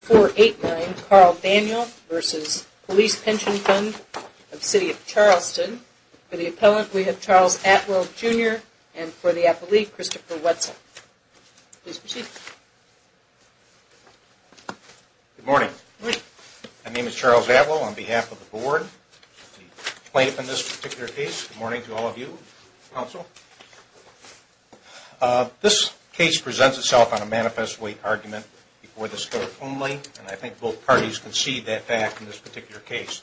489 Carl Daniel v. Police Pension Fund of City of Charleston. For the appellant, we have Charles Atwell, Jr. And for the appellee, Christopher Wetzel. Please proceed. Good morning. My name is Charles Atwell on behalf of the board. I'll explain it in this particular case. Good morning to all of you, counsel. This case presents itself on a manifest weight argument before the clerk only, and I think both parties concede that fact in this particular case.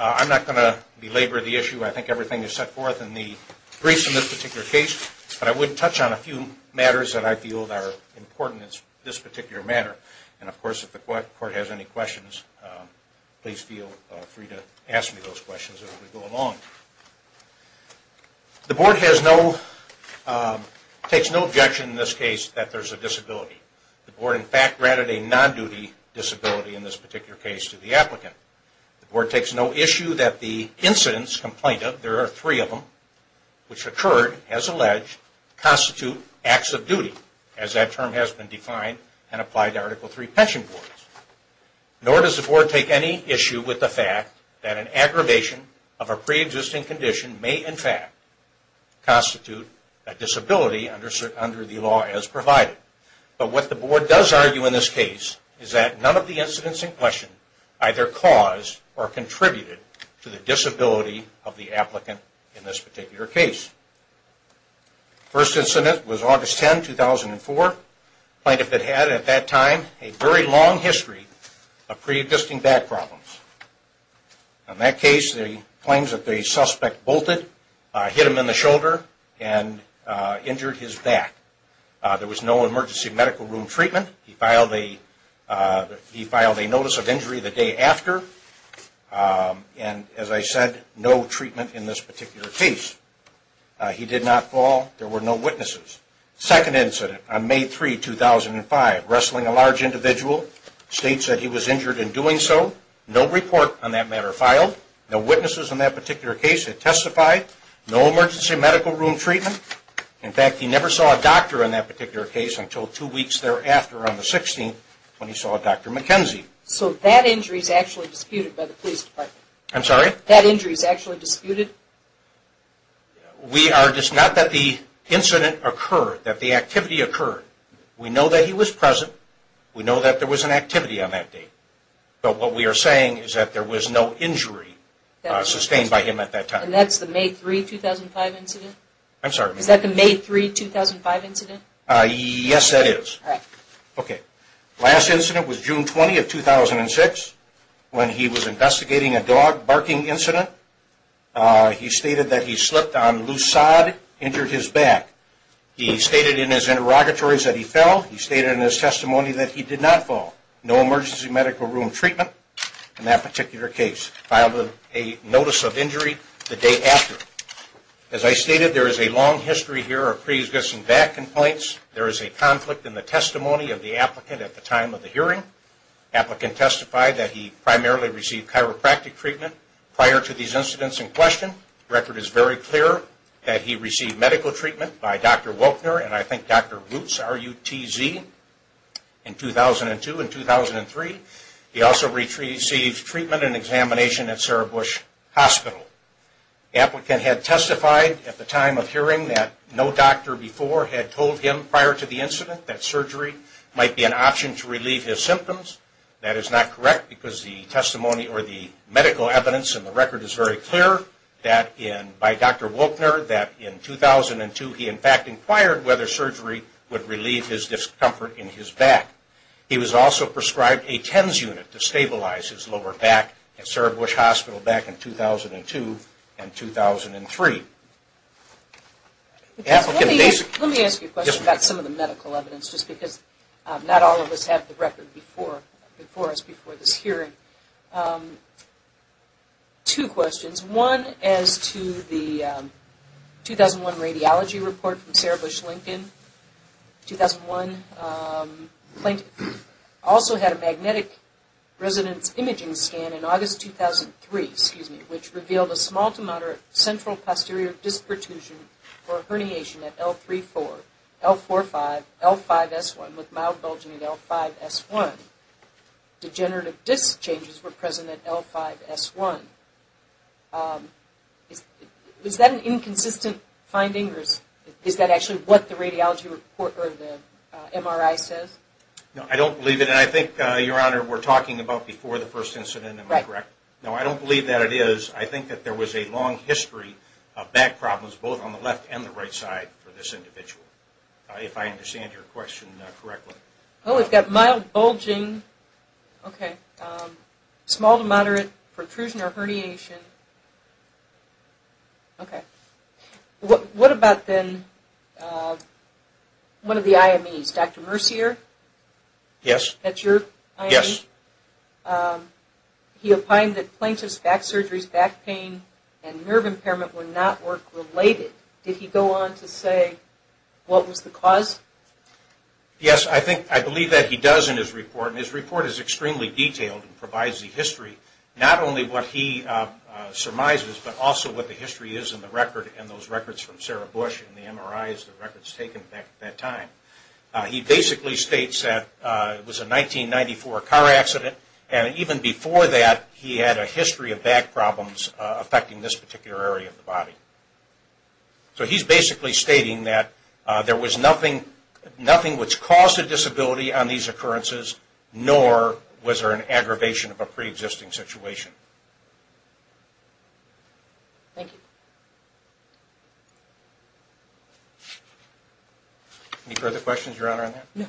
I'm not going to belabor the issue. I think everything is set forth in the briefs in this particular case. But I would touch on a few matters that I feel are important in this particular matter. And of course, if the court has any questions, please feel free to ask me those questions as we go along. The board takes no objection in this case that there's a disability. The board in fact granted a non-duty disability in this particular case to the applicant. The board takes no issue that the incidents complained of, there are three of them, which occurred, as alleged, constitute acts of duty, as that term has been defined and applied to Article III pension boards. Nor does the board take any issue with the fact that an aggravation of a pre-existing condition may in fact constitute a disability under the law as provided. But what the board does argue in this case is that none of the incidents in question either caused or contributed to the disability of the applicant in this particular case. First incident was August 10, 2004. Plaintiff had, at that time, a very long history of pre-existing back problems. In that case, the claims that the suspect bolted, hit him in the shoulder, and injured his back. There was no emergency medical room treatment. He filed a notice of injury the day after. And as I said, no treatment in this particular case. He did not fall. There were no witnesses. Second incident on May 3, 2005. Wrestling a large individual. State said he was injured in doing so. No report on that matter filed. No witnesses in that particular case had testified. No emergency medical room treatment. In fact, he never saw a doctor in that particular case until two weeks thereafter on the 16th when he saw Dr. McKenzie. So that injury is actually disputed by the police department? I'm sorry? That injury is actually disputed? We are, not that the incident occurred, that the activity occurred. We know that he was present. We know that there was an activity on that day. But what we are saying is that there was no injury sustained by him at that time. And that's the May 3, 2005 incident? I'm sorry? Is that the May 3, 2005 incident? Yes, that is. All right. Okay. Last incident was June 20, 2006 when he was investigating a dog barking incident. He stated that he slipped on loose sod, injured his back. He stated in his interrogatories that he fell. He stated in his testimony that he did not fall. No emergency medical room treatment in that particular case. Filed a notice of injury the day after. As I stated, there is a long history here of pre-existing back complaints. There is a conflict in the testimony of the applicant at the time of the hearing. Applicant testified that he primarily received chiropractic treatment prior to these incidents in question. The record is very clear that he received medical treatment by Dr. Welkner and I think Dr. Roots, R-U-T-Z, in 2002 and 2003. He also received treatment and examination at Sarah Bush Hospital. Applicant had testified at the time of hearing that no doctor before had told him prior to the incident that surgery might be an option to relieve his symptoms. That is not correct because the testimony or the medical evidence in the record is very clear by Dr. Welkner that in 2002 he in fact inquired whether surgery would relieve his discomfort in his back. He was also prescribed a TENS unit to stabilize his lower back at Sarah Bush Hospital back in 2002 and 2003. Let me ask you a question about some of the medical evidence just because not all of us have the record before us before this hearing. Two questions. One as to the 2001 radiology report from Sarah Bush Lincoln. 2001, also had a magnetic resonance imaging scan in August 2003, excuse me, which revealed a small to moderate central posterior disc protrusion or herniation at L3-4, L4-5, L5-S1 with mild bulging at L5-S1. Degenerative disc changes were present at L5-S1. Is that an inconsistent finding or is that actually what the radiology report or the MRI says? No, I don't believe it and I think, Your Honor, we're talking about before the first incident, am I correct? No, I don't believe that it is. I think that there was a long history of back problems both on the left and the right side for this individual, if I understand your question correctly. Oh, we've got mild bulging, okay, small to moderate protrusion or herniation. Okay. What about then one of the IMEs, Dr. Mercier? Yes. That's your IME? Yes. He opined that plaintiff's back surgeries, back pain and nerve impairment were not work related. Did he go on to say what was the cause? Yes, I think, I believe that he does in his report and his report is extremely detailed and provides the history, not only what he surmises but also what the history is in the record and those records from Sarah Bush and the MRIs, the records taken back at that time. He basically states that it was a 1994 car accident and even before that he had a history of back problems affecting this particular area of the body. So he's basically stating that there was nothing which caused a disability on these occurrences nor was there an aggravation of a pre-existing situation. Thank you. Any further questions, Your Honor, on that? No.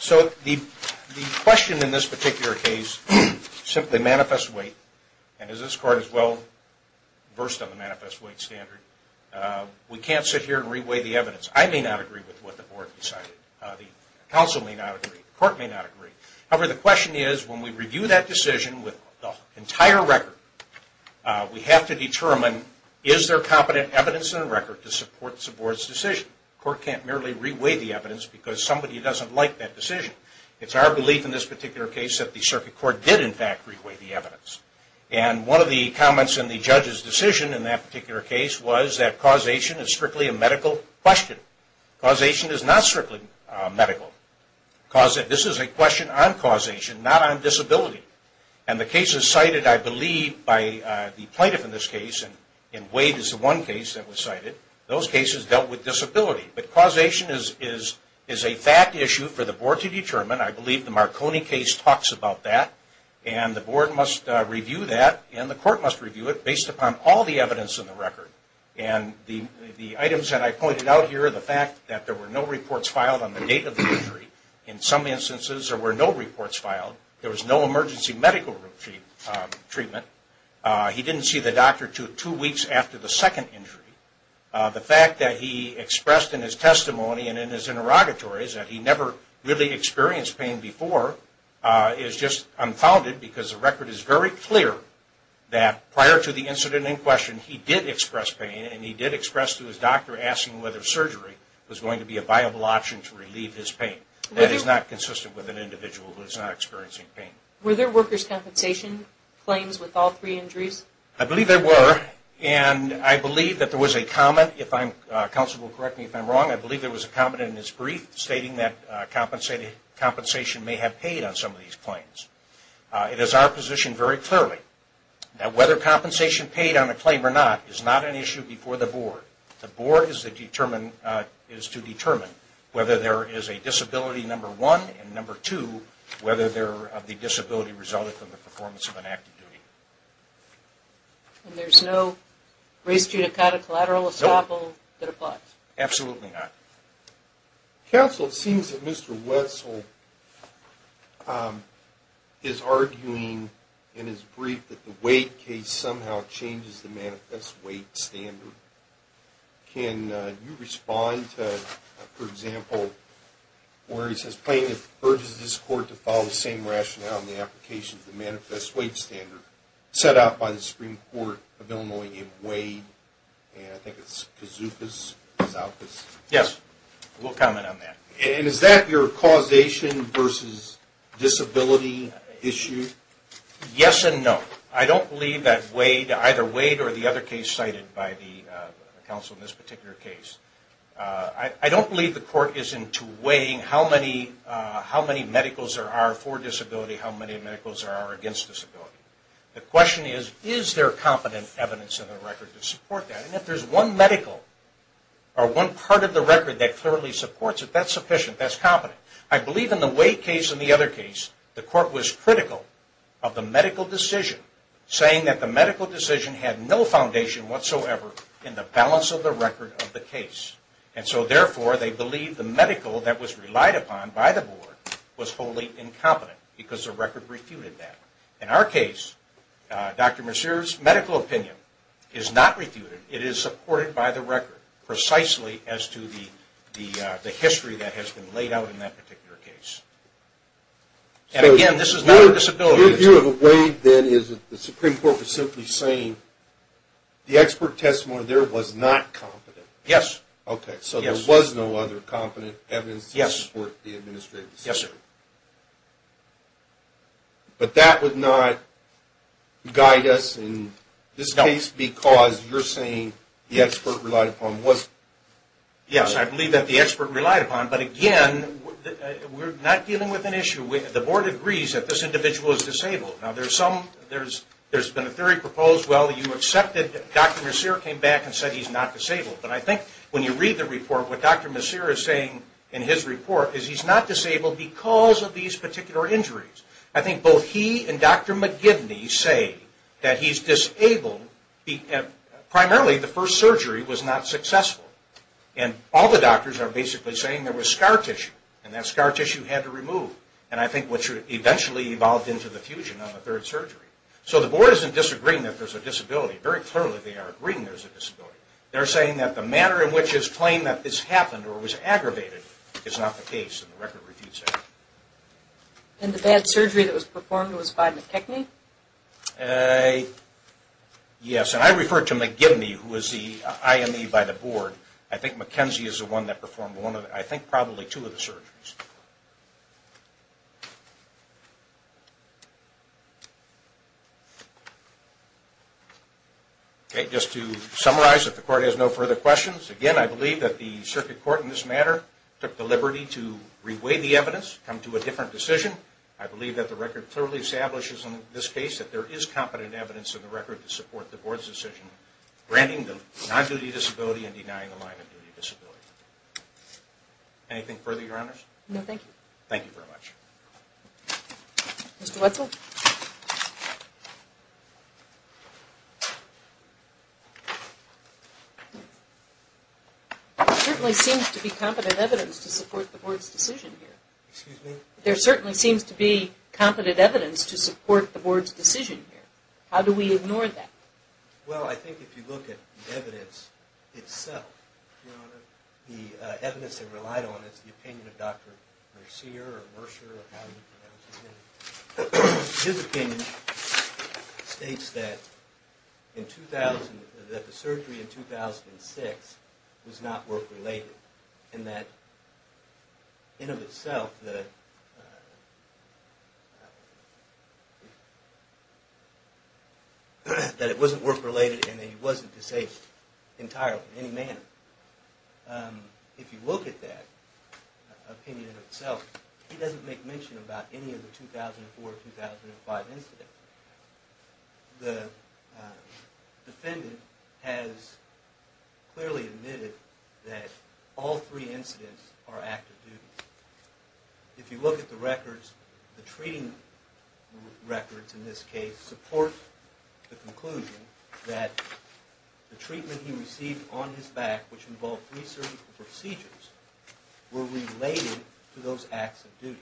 So the question in this particular case simply manifests weight and as this court is well versed on the manifest weight standard, we can't sit here and re-weigh the evidence. I may not agree with what the board decided, the counsel may not agree, the court may not agree. However, the question is when we review that decision with the entire record, we have to determine is there competent evidence in the record to support the board's decision. The court can't merely re-weigh the evidence because somebody doesn't like that decision. It's our belief in this particular case that the circuit court did in fact re-weigh the evidence and one of the comments in the judge's decision in that particular case was that causation is strictly a medical question. Causation is not strictly medical. This is a question on causation, not on disability. And the cases cited, I believe, by the plaintiff in this case, and Wade is the one case that was cited, those cases dealt with disability. But causation is a fact issue for the board to determine. I believe the Marconi case talks about that and the board must review that and the court must review it based upon all the evidence in the record. And the items that I pointed out here, the fact that there were no reports filed on the date of the injury, in some instances there were no reports filed, there was no emergency medical treatment, he didn't see the doctor two weeks after the second injury. The fact that he expressed in his testimony and in his interrogatories that he never really experienced pain before is just unfounded because the record is very clear that prior to the incident in question, he did express pain and he did express to his doctor asking whether surgery was going to be a viable option to relieve his pain. That is not consistent with an individual who is not experiencing pain. Were there workers' compensation claims with all three injuries? I believe there were. And I believe that there was a comment, if counsel will correct me if I'm wrong, I believe there was a comment in his brief stating that compensation may have paid on some of these claims. It is our position very clearly that whether compensation paid on a claim or not is not an issue before the board. The board is to determine whether there is a disability, number one, and number two, whether they're of the disability resulting from the performance of an active duty. And there's no race, gender, kind of collateral estoppel that applies? Absolutely not. Counsel, it seems that Mr. Wessel is arguing in his brief that the Wade case somehow changes the manifest Wade standard. Can you respond to, for example, where he says plaintiff urges this court to follow the same rationale in the application of the manifest Wade standard set out by the Supreme Court of Illinois in Wade and I think it's Kazuka's office. Yes, we'll comment on that. And is that your causation versus disability issue? Yes and no. I don't believe that either Wade or the other case cited by the counsel in this particular case, I don't believe the court is into weighing how many medicals there are for disability, how many medicals there are against disability. The question is, is there competent evidence in the record to support that? And if there's one medical or one part of the record that clearly supports it, that's sufficient, that's competent. I believe in the Wade case and the other case, the court was critical of the medical decision saying that the medical decision had no foundation whatsoever in the balance of the record of the case. And so therefore, they believe the medical that was relied upon by the board was wholly incompetent because the record refuted that. In our case, Dr. Mercier's medical opinion is not refuted. It is supported by the record precisely as to the history that has been laid out in that particular case. And again, this is not a disability. So your view of Wade then is that the Supreme Court was simply saying the expert testimony there was not competent? Yes. Okay. So there was no other competent evidence to support the administrative decision? Yes, sir. But that would not guide us in this case because you're saying the expert relied upon was? Yes, I believe that the expert relied upon. But again, we're not dealing with an issue. The board agrees that this individual is disabled. Now, there's been a theory proposed, well, you accepted Dr. Mercier came back and said he's not disabled. But I think when you read the report, what Dr. Mercier is saying in his report is he's not disabled because of these particular injuries. I think both he and Dr. McGivney say that he's disabled and primarily the first surgery was not successful. And all the doctors are basically saying there was scar tissue and that scar tissue had to remove. And I think what should eventually evolved into the fusion on the third surgery. So the board isn't disagreeing that there's a disability. Very clearly, they are agreeing there's a disability. They're saying that the manner in which is plain that this happened or was aggravated is not the case in the Record Refuse Act. And the bad surgery that was performed was by McGivney? Uh, yes. And I refer to McGivney who is the IME by the board. I think McKenzie is the one that performed one of, I think probably two of the surgeries. Okay, just to summarize if the court has no further questions. Again, I believe that the circuit court in this matter took the liberty to reweigh the evidence, come to a different decision. I believe that the record clearly establishes in this case that there is competent evidence in the record to support the board's decision granting the non-duty disability and denying the line-of-duty disability. Anything further, Your Honors? No, thank you. Thank you very much. Mr. Wetzel? There certainly seems to be competent evidence to support the board's decision here. Excuse me? There certainly seems to be competent evidence to support the board's decision here. How do we ignore that? Well, I think if you look at the evidence itself, the evidence they relied on is the opinion of Dr. Mercier or Mercer or however you pronounce his name. His opinion states that in 2000, that the surgery in 2006 was not work-related and that in of itself that it wasn't work-related and that he wasn't disabled entirely in any manner. If you look at that opinion itself, he doesn't make mention about any of the 2004-2005 incidents. The defendant has clearly admitted that all three incidents are active duties. If you look at the records, the treating records in this case support the conclusion that the treatment he received on his back, which involved three surgical procedures, were related to those acts of duty.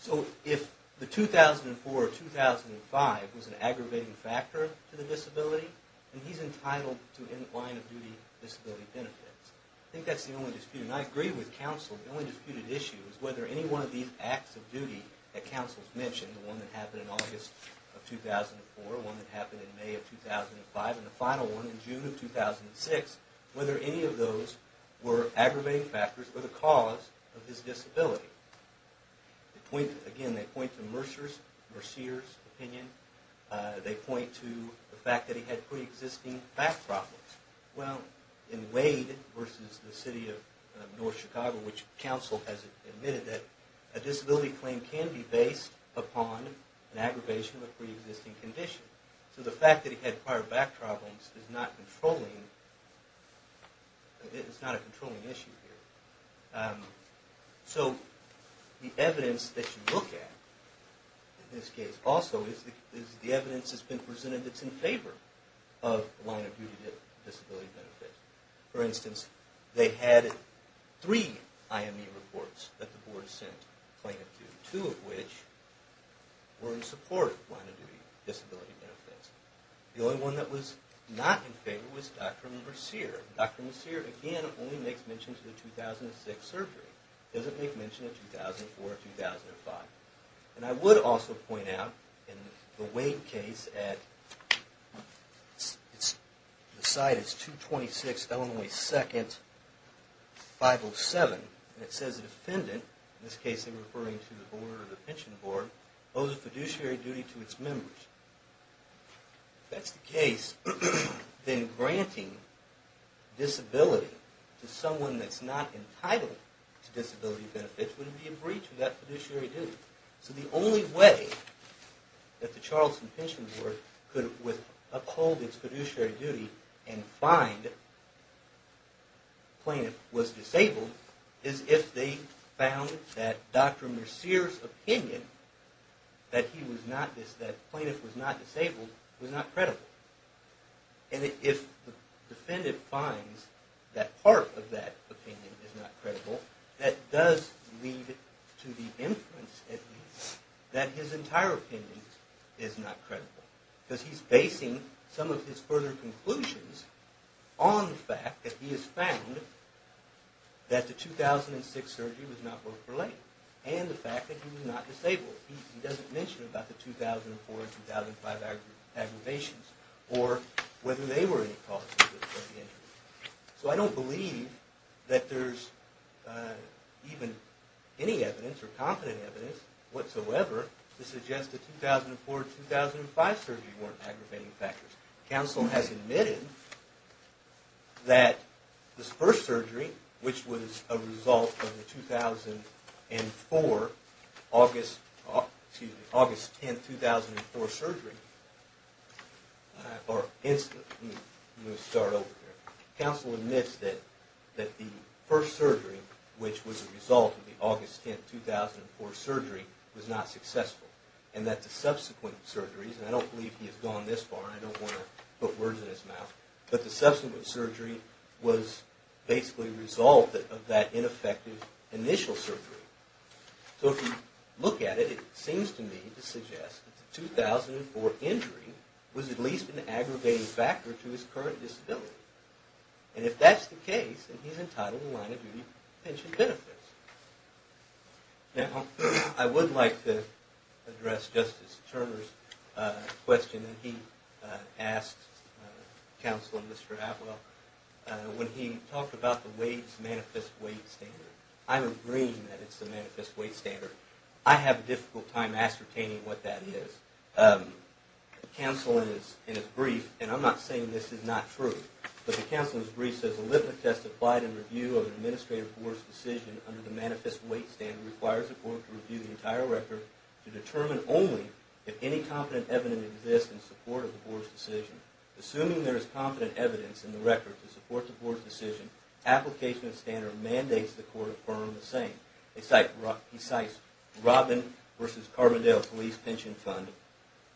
So if the 2004-2005 was an aggravating factor to the disability, then he's entitled to in the line of duty disability benefits. I think that's the only dispute. I agree with counsel. The only disputed issue is whether any one of these acts of duty that counsel's mentioned, the one that happened in August of 2004, the one that happened in May of 2005, and the final one in June of 2006, whether any of those were aggravating factors or the cause of his disability. Again, they point to Mercier's opinion. They point to the fact that he had pre-existing back problems. Well, in Wade versus the city of North Chicago, which counsel has admitted that a disability claim can be based upon an aggravation of a pre-existing condition. So the fact that he had prior back problems is not a controlling issue here. So the evidence that you look at in this case also is the evidence that's been presented that's in favor of the line of duty disability benefits. For instance, they had three IME reports that the board sent a claim to, two of which were in support of the line of duty disability benefits. The only one that was not in favor was Dr. Mercier. Dr. Mercier, again, only makes mention to the 2006 surgery. Doesn't make mention of 2004, 2005. And I would also point out in the Wade case, that the site is 226 Illinois 2nd, 507. And it says the defendant, in this case, they're referring to the board or the pension board, owes a fiduciary duty to its members. If that's the case, then granting disability to someone that's not entitled to disability benefits wouldn't be a breach of that fiduciary duty. So the only way that the Charleston Pension Board could uphold its fiduciary duty and find a plaintiff was disabled is if they found that Dr. Mercier's opinion that he was not, that plaintiff was not disabled was not credible. And if the defendant finds that part of that opinion is not credible, that does lead to the inference that his entire opinion is not credible. Because he's basing some of his further conclusions on the fact that he has found that the 2006 surgery was not worth belaying. And the fact that he was not disabled. He doesn't mention about the 2004 and 2005 aggravations or whether they were any causes. So I don't believe that there's even any evidence or competent evidence whatsoever to suggest the 2004-2005 surgery weren't aggravating factors. Council has admitted that this first surgery, which was a result of the 2004, August, excuse me, August 10, 2004 surgery, or incident, let me start over here. Council admits that the first surgery, which was a result of the August 10, 2004 surgery, was not successful. And that the subsequent surgeries, and I don't believe he has gone this far, I don't want to put words in his mouth, but the subsequent surgery was basically a result of that ineffective initial surgery. So if you look at it, it seems to me to suggest that the 2004 injury was at least an aggravating factor to his current disability. And if that's the case, then he's entitled to line-of-duty pension benefits. Now, I would like to address Justice Turner's question that he asked Council and Mr. Atwell when he talked about the weight, manifest weight standard. I'm agreeing that it's the manifest weight standard. I have a difficult time ascertaining what that is. Council, in his brief, and I'm not saying this is not true, but the Council in his brief says Olympic testified in review of the Administrative Board's decision under the manifest weight standard requires the Court to review the entire record to determine only if any competent evidence exists in support of the Board's decision. Assuming there is competent evidence in the record to support the Board's decision, application of standard mandates the Court affirm the same. He cites Robin versus Carbondale Police Pension Fund.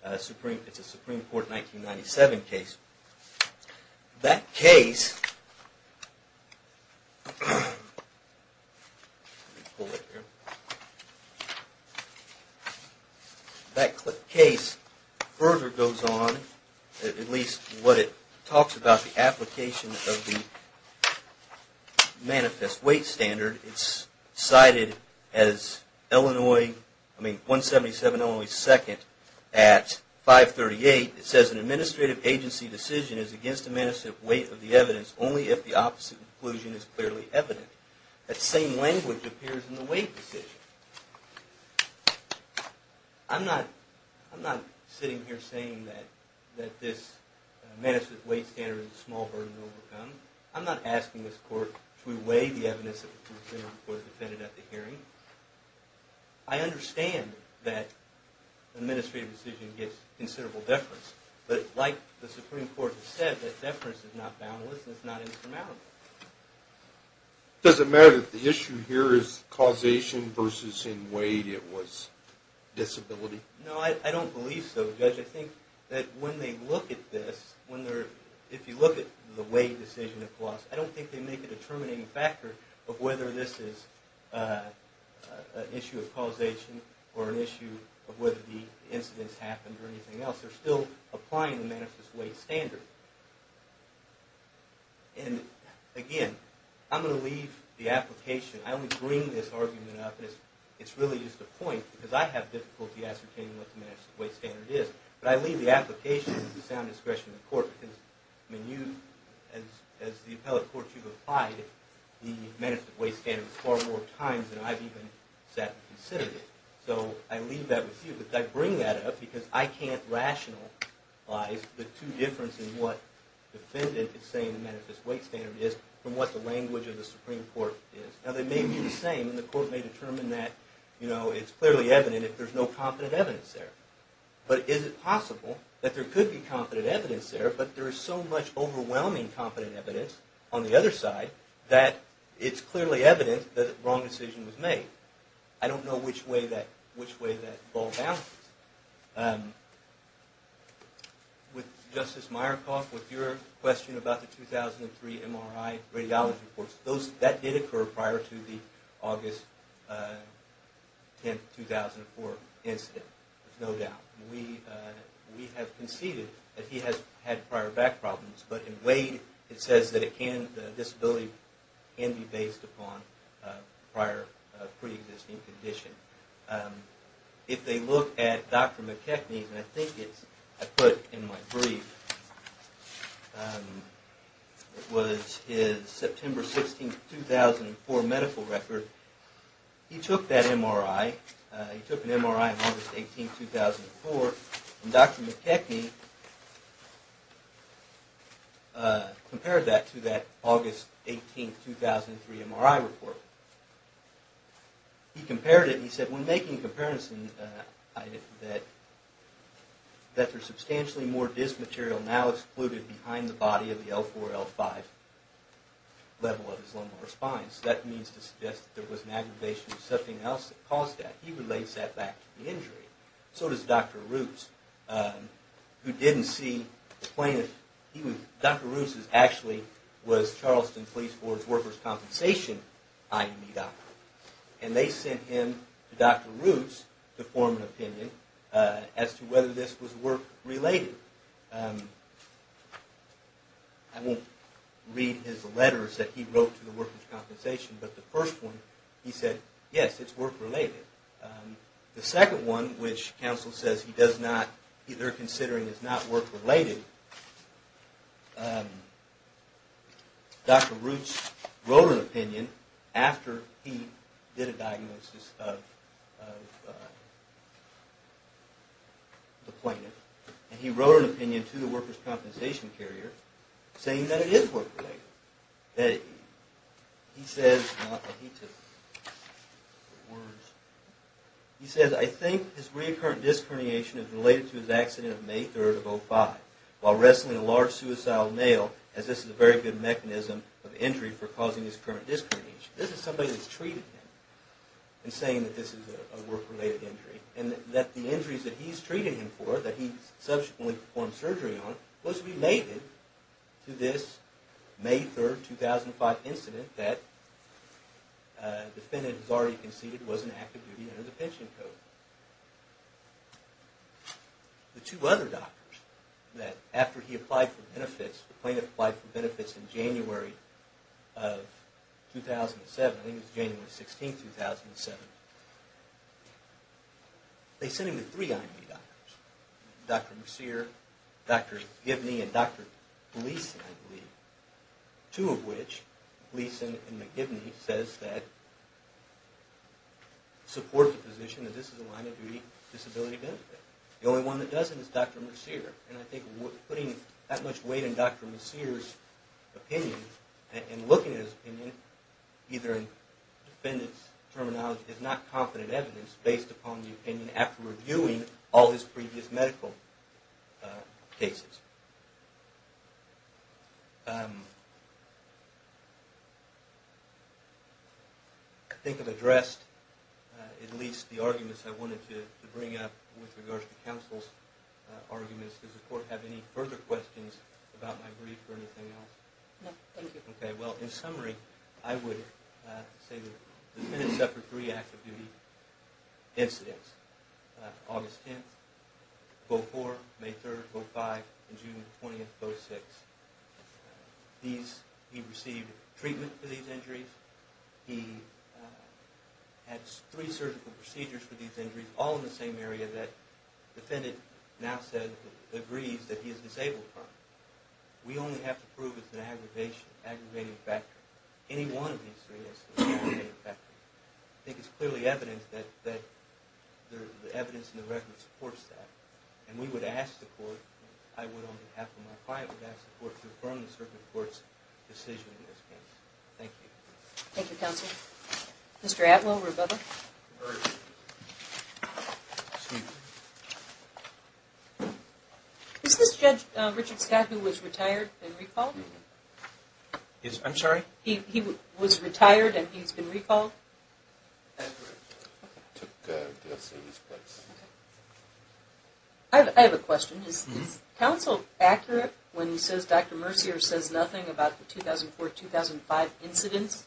It's a Supreme Court 1997 case. That case let me pull it here. That case further goes on, at least what it talks about, the application of the manifest weight standard. It's cited as Illinois, I mean, 177 Illinois 2nd at 538. It says an administrative agency decision is against the weight of the evidence only if the opposite inclusion is clearly evident. That same language appears in the weight decision. I'm not sitting here saying that this manifest weight standard is a small burden to overcome. I'm not asking this Court to weigh the evidence that the Supreme Court defended at the hearing. I understand that administrative decision gets considerable deference, but like the Supreme Court has said, that deference is not boundless and it's not insurmountable. It doesn't matter that the issue here is causation versus in weight it was disability? No, I don't believe so, Judge. I think that when they look at this, when they're, if you look at the weight decision, I don't think they make a determining factor of whether this is an issue of causation or an issue of whether the incidents happened or anything else. They're still applying the manifest weight standard. And again, I'm going to leave the application, I only bring this argument up and it's really just a point because I have difficulty ascertaining what the manifest weight standard is. But I leave the application at the sound discretion of the Court because I mean you, as the appellate Court you've applied the manifest weight standard far more times than I've even sat and considered it. So I leave that with you, but I bring that up because I can't rationalize the two differences in what the defendant is saying the manifest weight standard is from what the language of the Supreme Court is. Now they may be the same and the Court may determine that it's clearly evident if there's no confident evidence there. But is it possible that there could be confident evidence there but there is so much overwhelming confident evidence on the other side that it's clearly evident that a wrong decision was made. I don't know which way that ball bounces. With Justice Myerkoff, with your question about the 2003 MRI radiology reports, that did occur prior to the August 10, 2004 incident, there's no doubt. We have conceded that he has had prior back problems, but in Wade it says that the disability can be based upon prior pre-existing condition. If they look at Dr. McKechnie's, and I think it's I put in my brief, it was his September 16, 2004 medical record, he took that MRI, he took an MRI on August 18, 2004, and Dr. McKechnie compared that to that August 18, 2003 MRI report. He compared it and he said, when making a comparison, that there's substantially more dysmaterial now excluded behind the body of the L4, L5 level of his lumbar spine. So that means to suggest that there was an aggravation of something else that caused that. He relates that back to the injury. So does Dr. Roos, who didn't see the plaintiff. Dr. Roos actually was Charleston Police Force Workers' Compensation IME doctor, and they sent him to Dr. Roos to form an opinion as to whether this was work-related. I won't read his letters that he wrote to the Workers' Compensation, but the first one he said, yes, it's work-related. The second one, which counsel says he does not either considering is not work-related, Dr. Roos wrote an opinion after he did a diagnosis of the plaintiff, and he wrote an opinion to the Workers' Compensation carrier saying that it is work-related. He says, I think his recurrent disc herniation is related to his accident of May 3rd of 05 while wrestling a large suicidal male, as this is a very good mechanism of injury for causing his recurrent disc herniation. This is somebody that's treating him and saying that this is a work-related injury, and that the injuries that he's treating him for, that he subsequently performed surgery on, was related to this May 3rd, 2005 incident that the defendant has already conceded was an active duty under the pension code. The two other doctors, that after he applied for benefits, the plaintiff applied for benefits in January of 2007, I think it was January 16th, 2007. They sent him to three IME doctors, Dr. Mercier, Dr. Gibney, and Dr. Gleason, I believe, two of which, Gleason and McGibney, says that support the position that this is a line of duty disability benefit. The only one that doesn't is Dr. Mercier, and I think putting that much weight in Dr. Mercier's opinion and looking at his opinion, either in defendant's terminology, is not confident evidence based upon the opinion after reviewing all his previous medical cases. I think I've addressed at least the arguments I wanted to bring up with regards to counsel's arguments. Does the court have any further questions about my brief or anything else? No, thank you. Okay, well, in summary, I would say that the defendant suffered three active duty incidents, August 10th, vote 4, May 3rd, vote 5, and June 20th, vote 6. He received treatment for these injuries. He had three surgical procedures for these injuries, all in the same area that the defendant now agrees that he is disabled from. We only have to prove it's an aggravating factor. Any one of these three is an aggravating factor. I think it's clearly evident that the evidence in the record supports that. And we would ask the court, I would on behalf of my client, would ask the court to affirm the circuit court's decision in this case. Thank you. Thank you, counsel. Mr. Atwell, Rebuttal. Is this judge Richard Skagg, who was retired, in recall? I'm sorry? He was retired and he's been recalled? I have a question. Is counsel accurate when he says Dr. Mercier says nothing about the 2004-2005 incidents?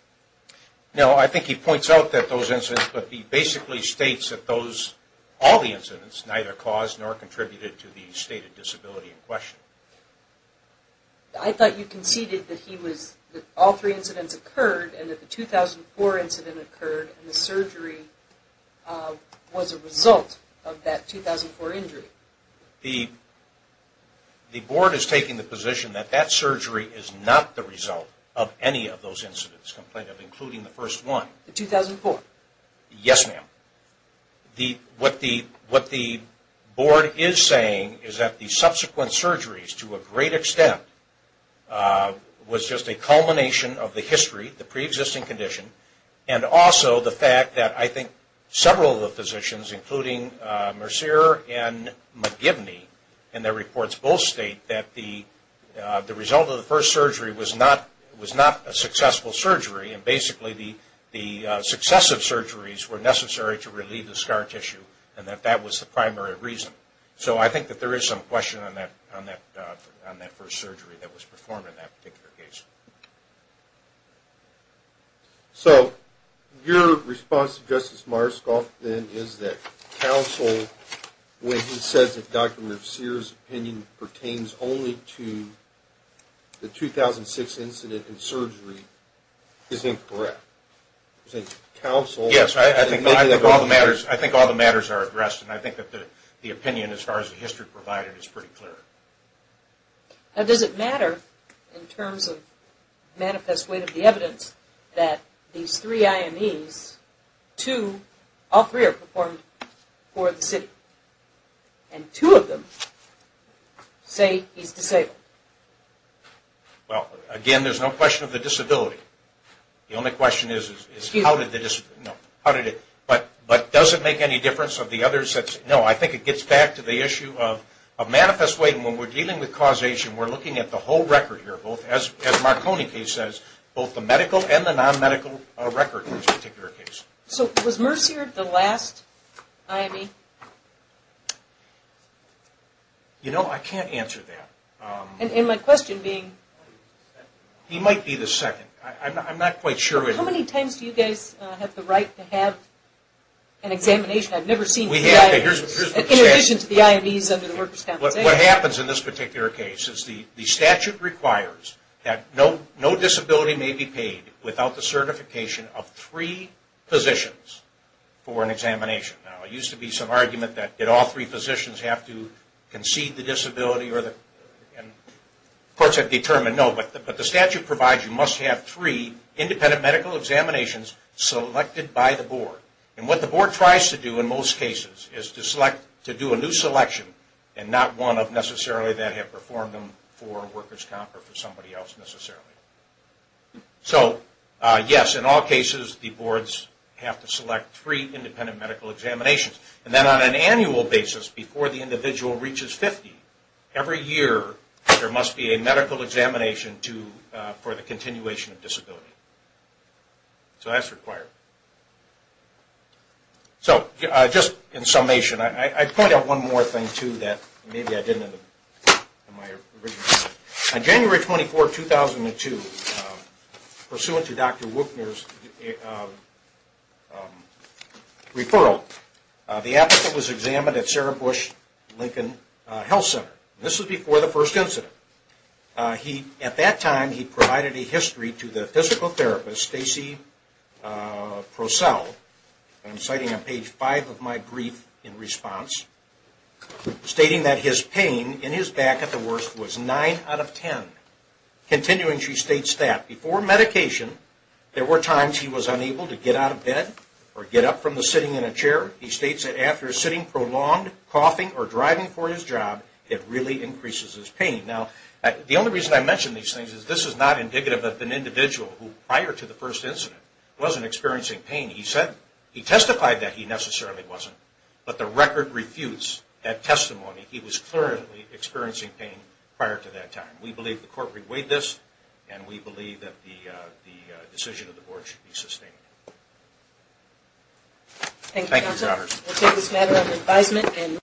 No, I think he points out that those incidents, but he basically states that all the incidents neither caused nor contributed to the stated disability in question. I thought you conceded that all three incidents occurred and that the 2004 incident occurred and the surgery was a result of that 2004 injury. The board is taking the position that that surgery is not the result of any of those incidents, including the first one. The 2004? Yes, ma'am. What the board is saying is that the subsequent surgery to a great extent was just a culmination of the history, the pre-existing condition, and also the fact that I think several of the physicians, including Mercier and McGivney in their reports, both state that the result of the first surgery was not a successful surgery and basically the successive surgeries were necessary to relieve the scar tissue and that that was the primary reason. So I think that there is some question on that first surgery that was performed in that particular case. So your response to Justice Myerscough then is that counsel, when he says that Dr. Mercier's opinion pertains only to the 2006 incident and surgery, is incorrect. Yes, I think all the matters are addressed and I think that the opinion as far as the history provided is pretty clear. Now does it matter in terms of manifest weight of the evidence that these three IMEs, two, all three are performed for the city and two of them say he's disabled? Well, again, there's no question of the disability. The only question is is how did the disability, how did it, but does it make any difference of the others? No, I think it gets back to the issue of manifest weight and when we're dealing with causation, we're looking at the whole record here, both as Marconi case says, both the medical and the non-medical record in this particular case. So was Mercier the last IME? You know, I can't answer that. And my question being... He might be the second. I'm not quite sure. have the right to have an examination? I've never seen... We have, but here's what you say. In addition to the IMEs under the workers' compensation. What happens in this particular case is the statute requires that no disability may be paid without the certification of three physicians for an examination. Now, it used to be some argument that did all three physicians have to concede the disability or the... And courts have determined, no, but the statute provides you must have three independent medical examinations selected by the board. And what the board tries to do in most cases is to select, to do a new selection and not one of necessarily that have performed them for workers' comp or for somebody else necessarily. So, yes, in all cases the boards have to select three independent medical examinations. And then on an annual basis before the individual reaches 50, every year there must be a medical examination for the continuation of disability. So that's required. So, just in summation, I'd point out one more thing, too, that maybe I didn't in my original... On January 24, 2002, pursuant to Dr. Wuchner's referral, the applicant was examined at Sarah Bush Lincoln Health Center. This was before the first incident. He, at that time, he provided a history to the physical therapist, Stacy Wuchner. And I'm citing on page 5 of my brief in response, stating that his pain in his back at the worst was 9 out of 10. Continuing, she states that before medication, there were times he was unable to get out of bed or get up from the sitting in a chair. He states that after sitting prolonged, coughing or driving for his job, it really increases his pain. Now, the only reason I mention these things is this is not indicative of an individual who prior to the first incident wasn't experiencing pain. He testified that he necessarily wasn't, but the record refutes that testimony. He was clearly experiencing pain prior to that time. We believe the court reweighed this and we believe that the decision of the board should be sustained. Thank you, counsel. We'll take this matter under advisement and...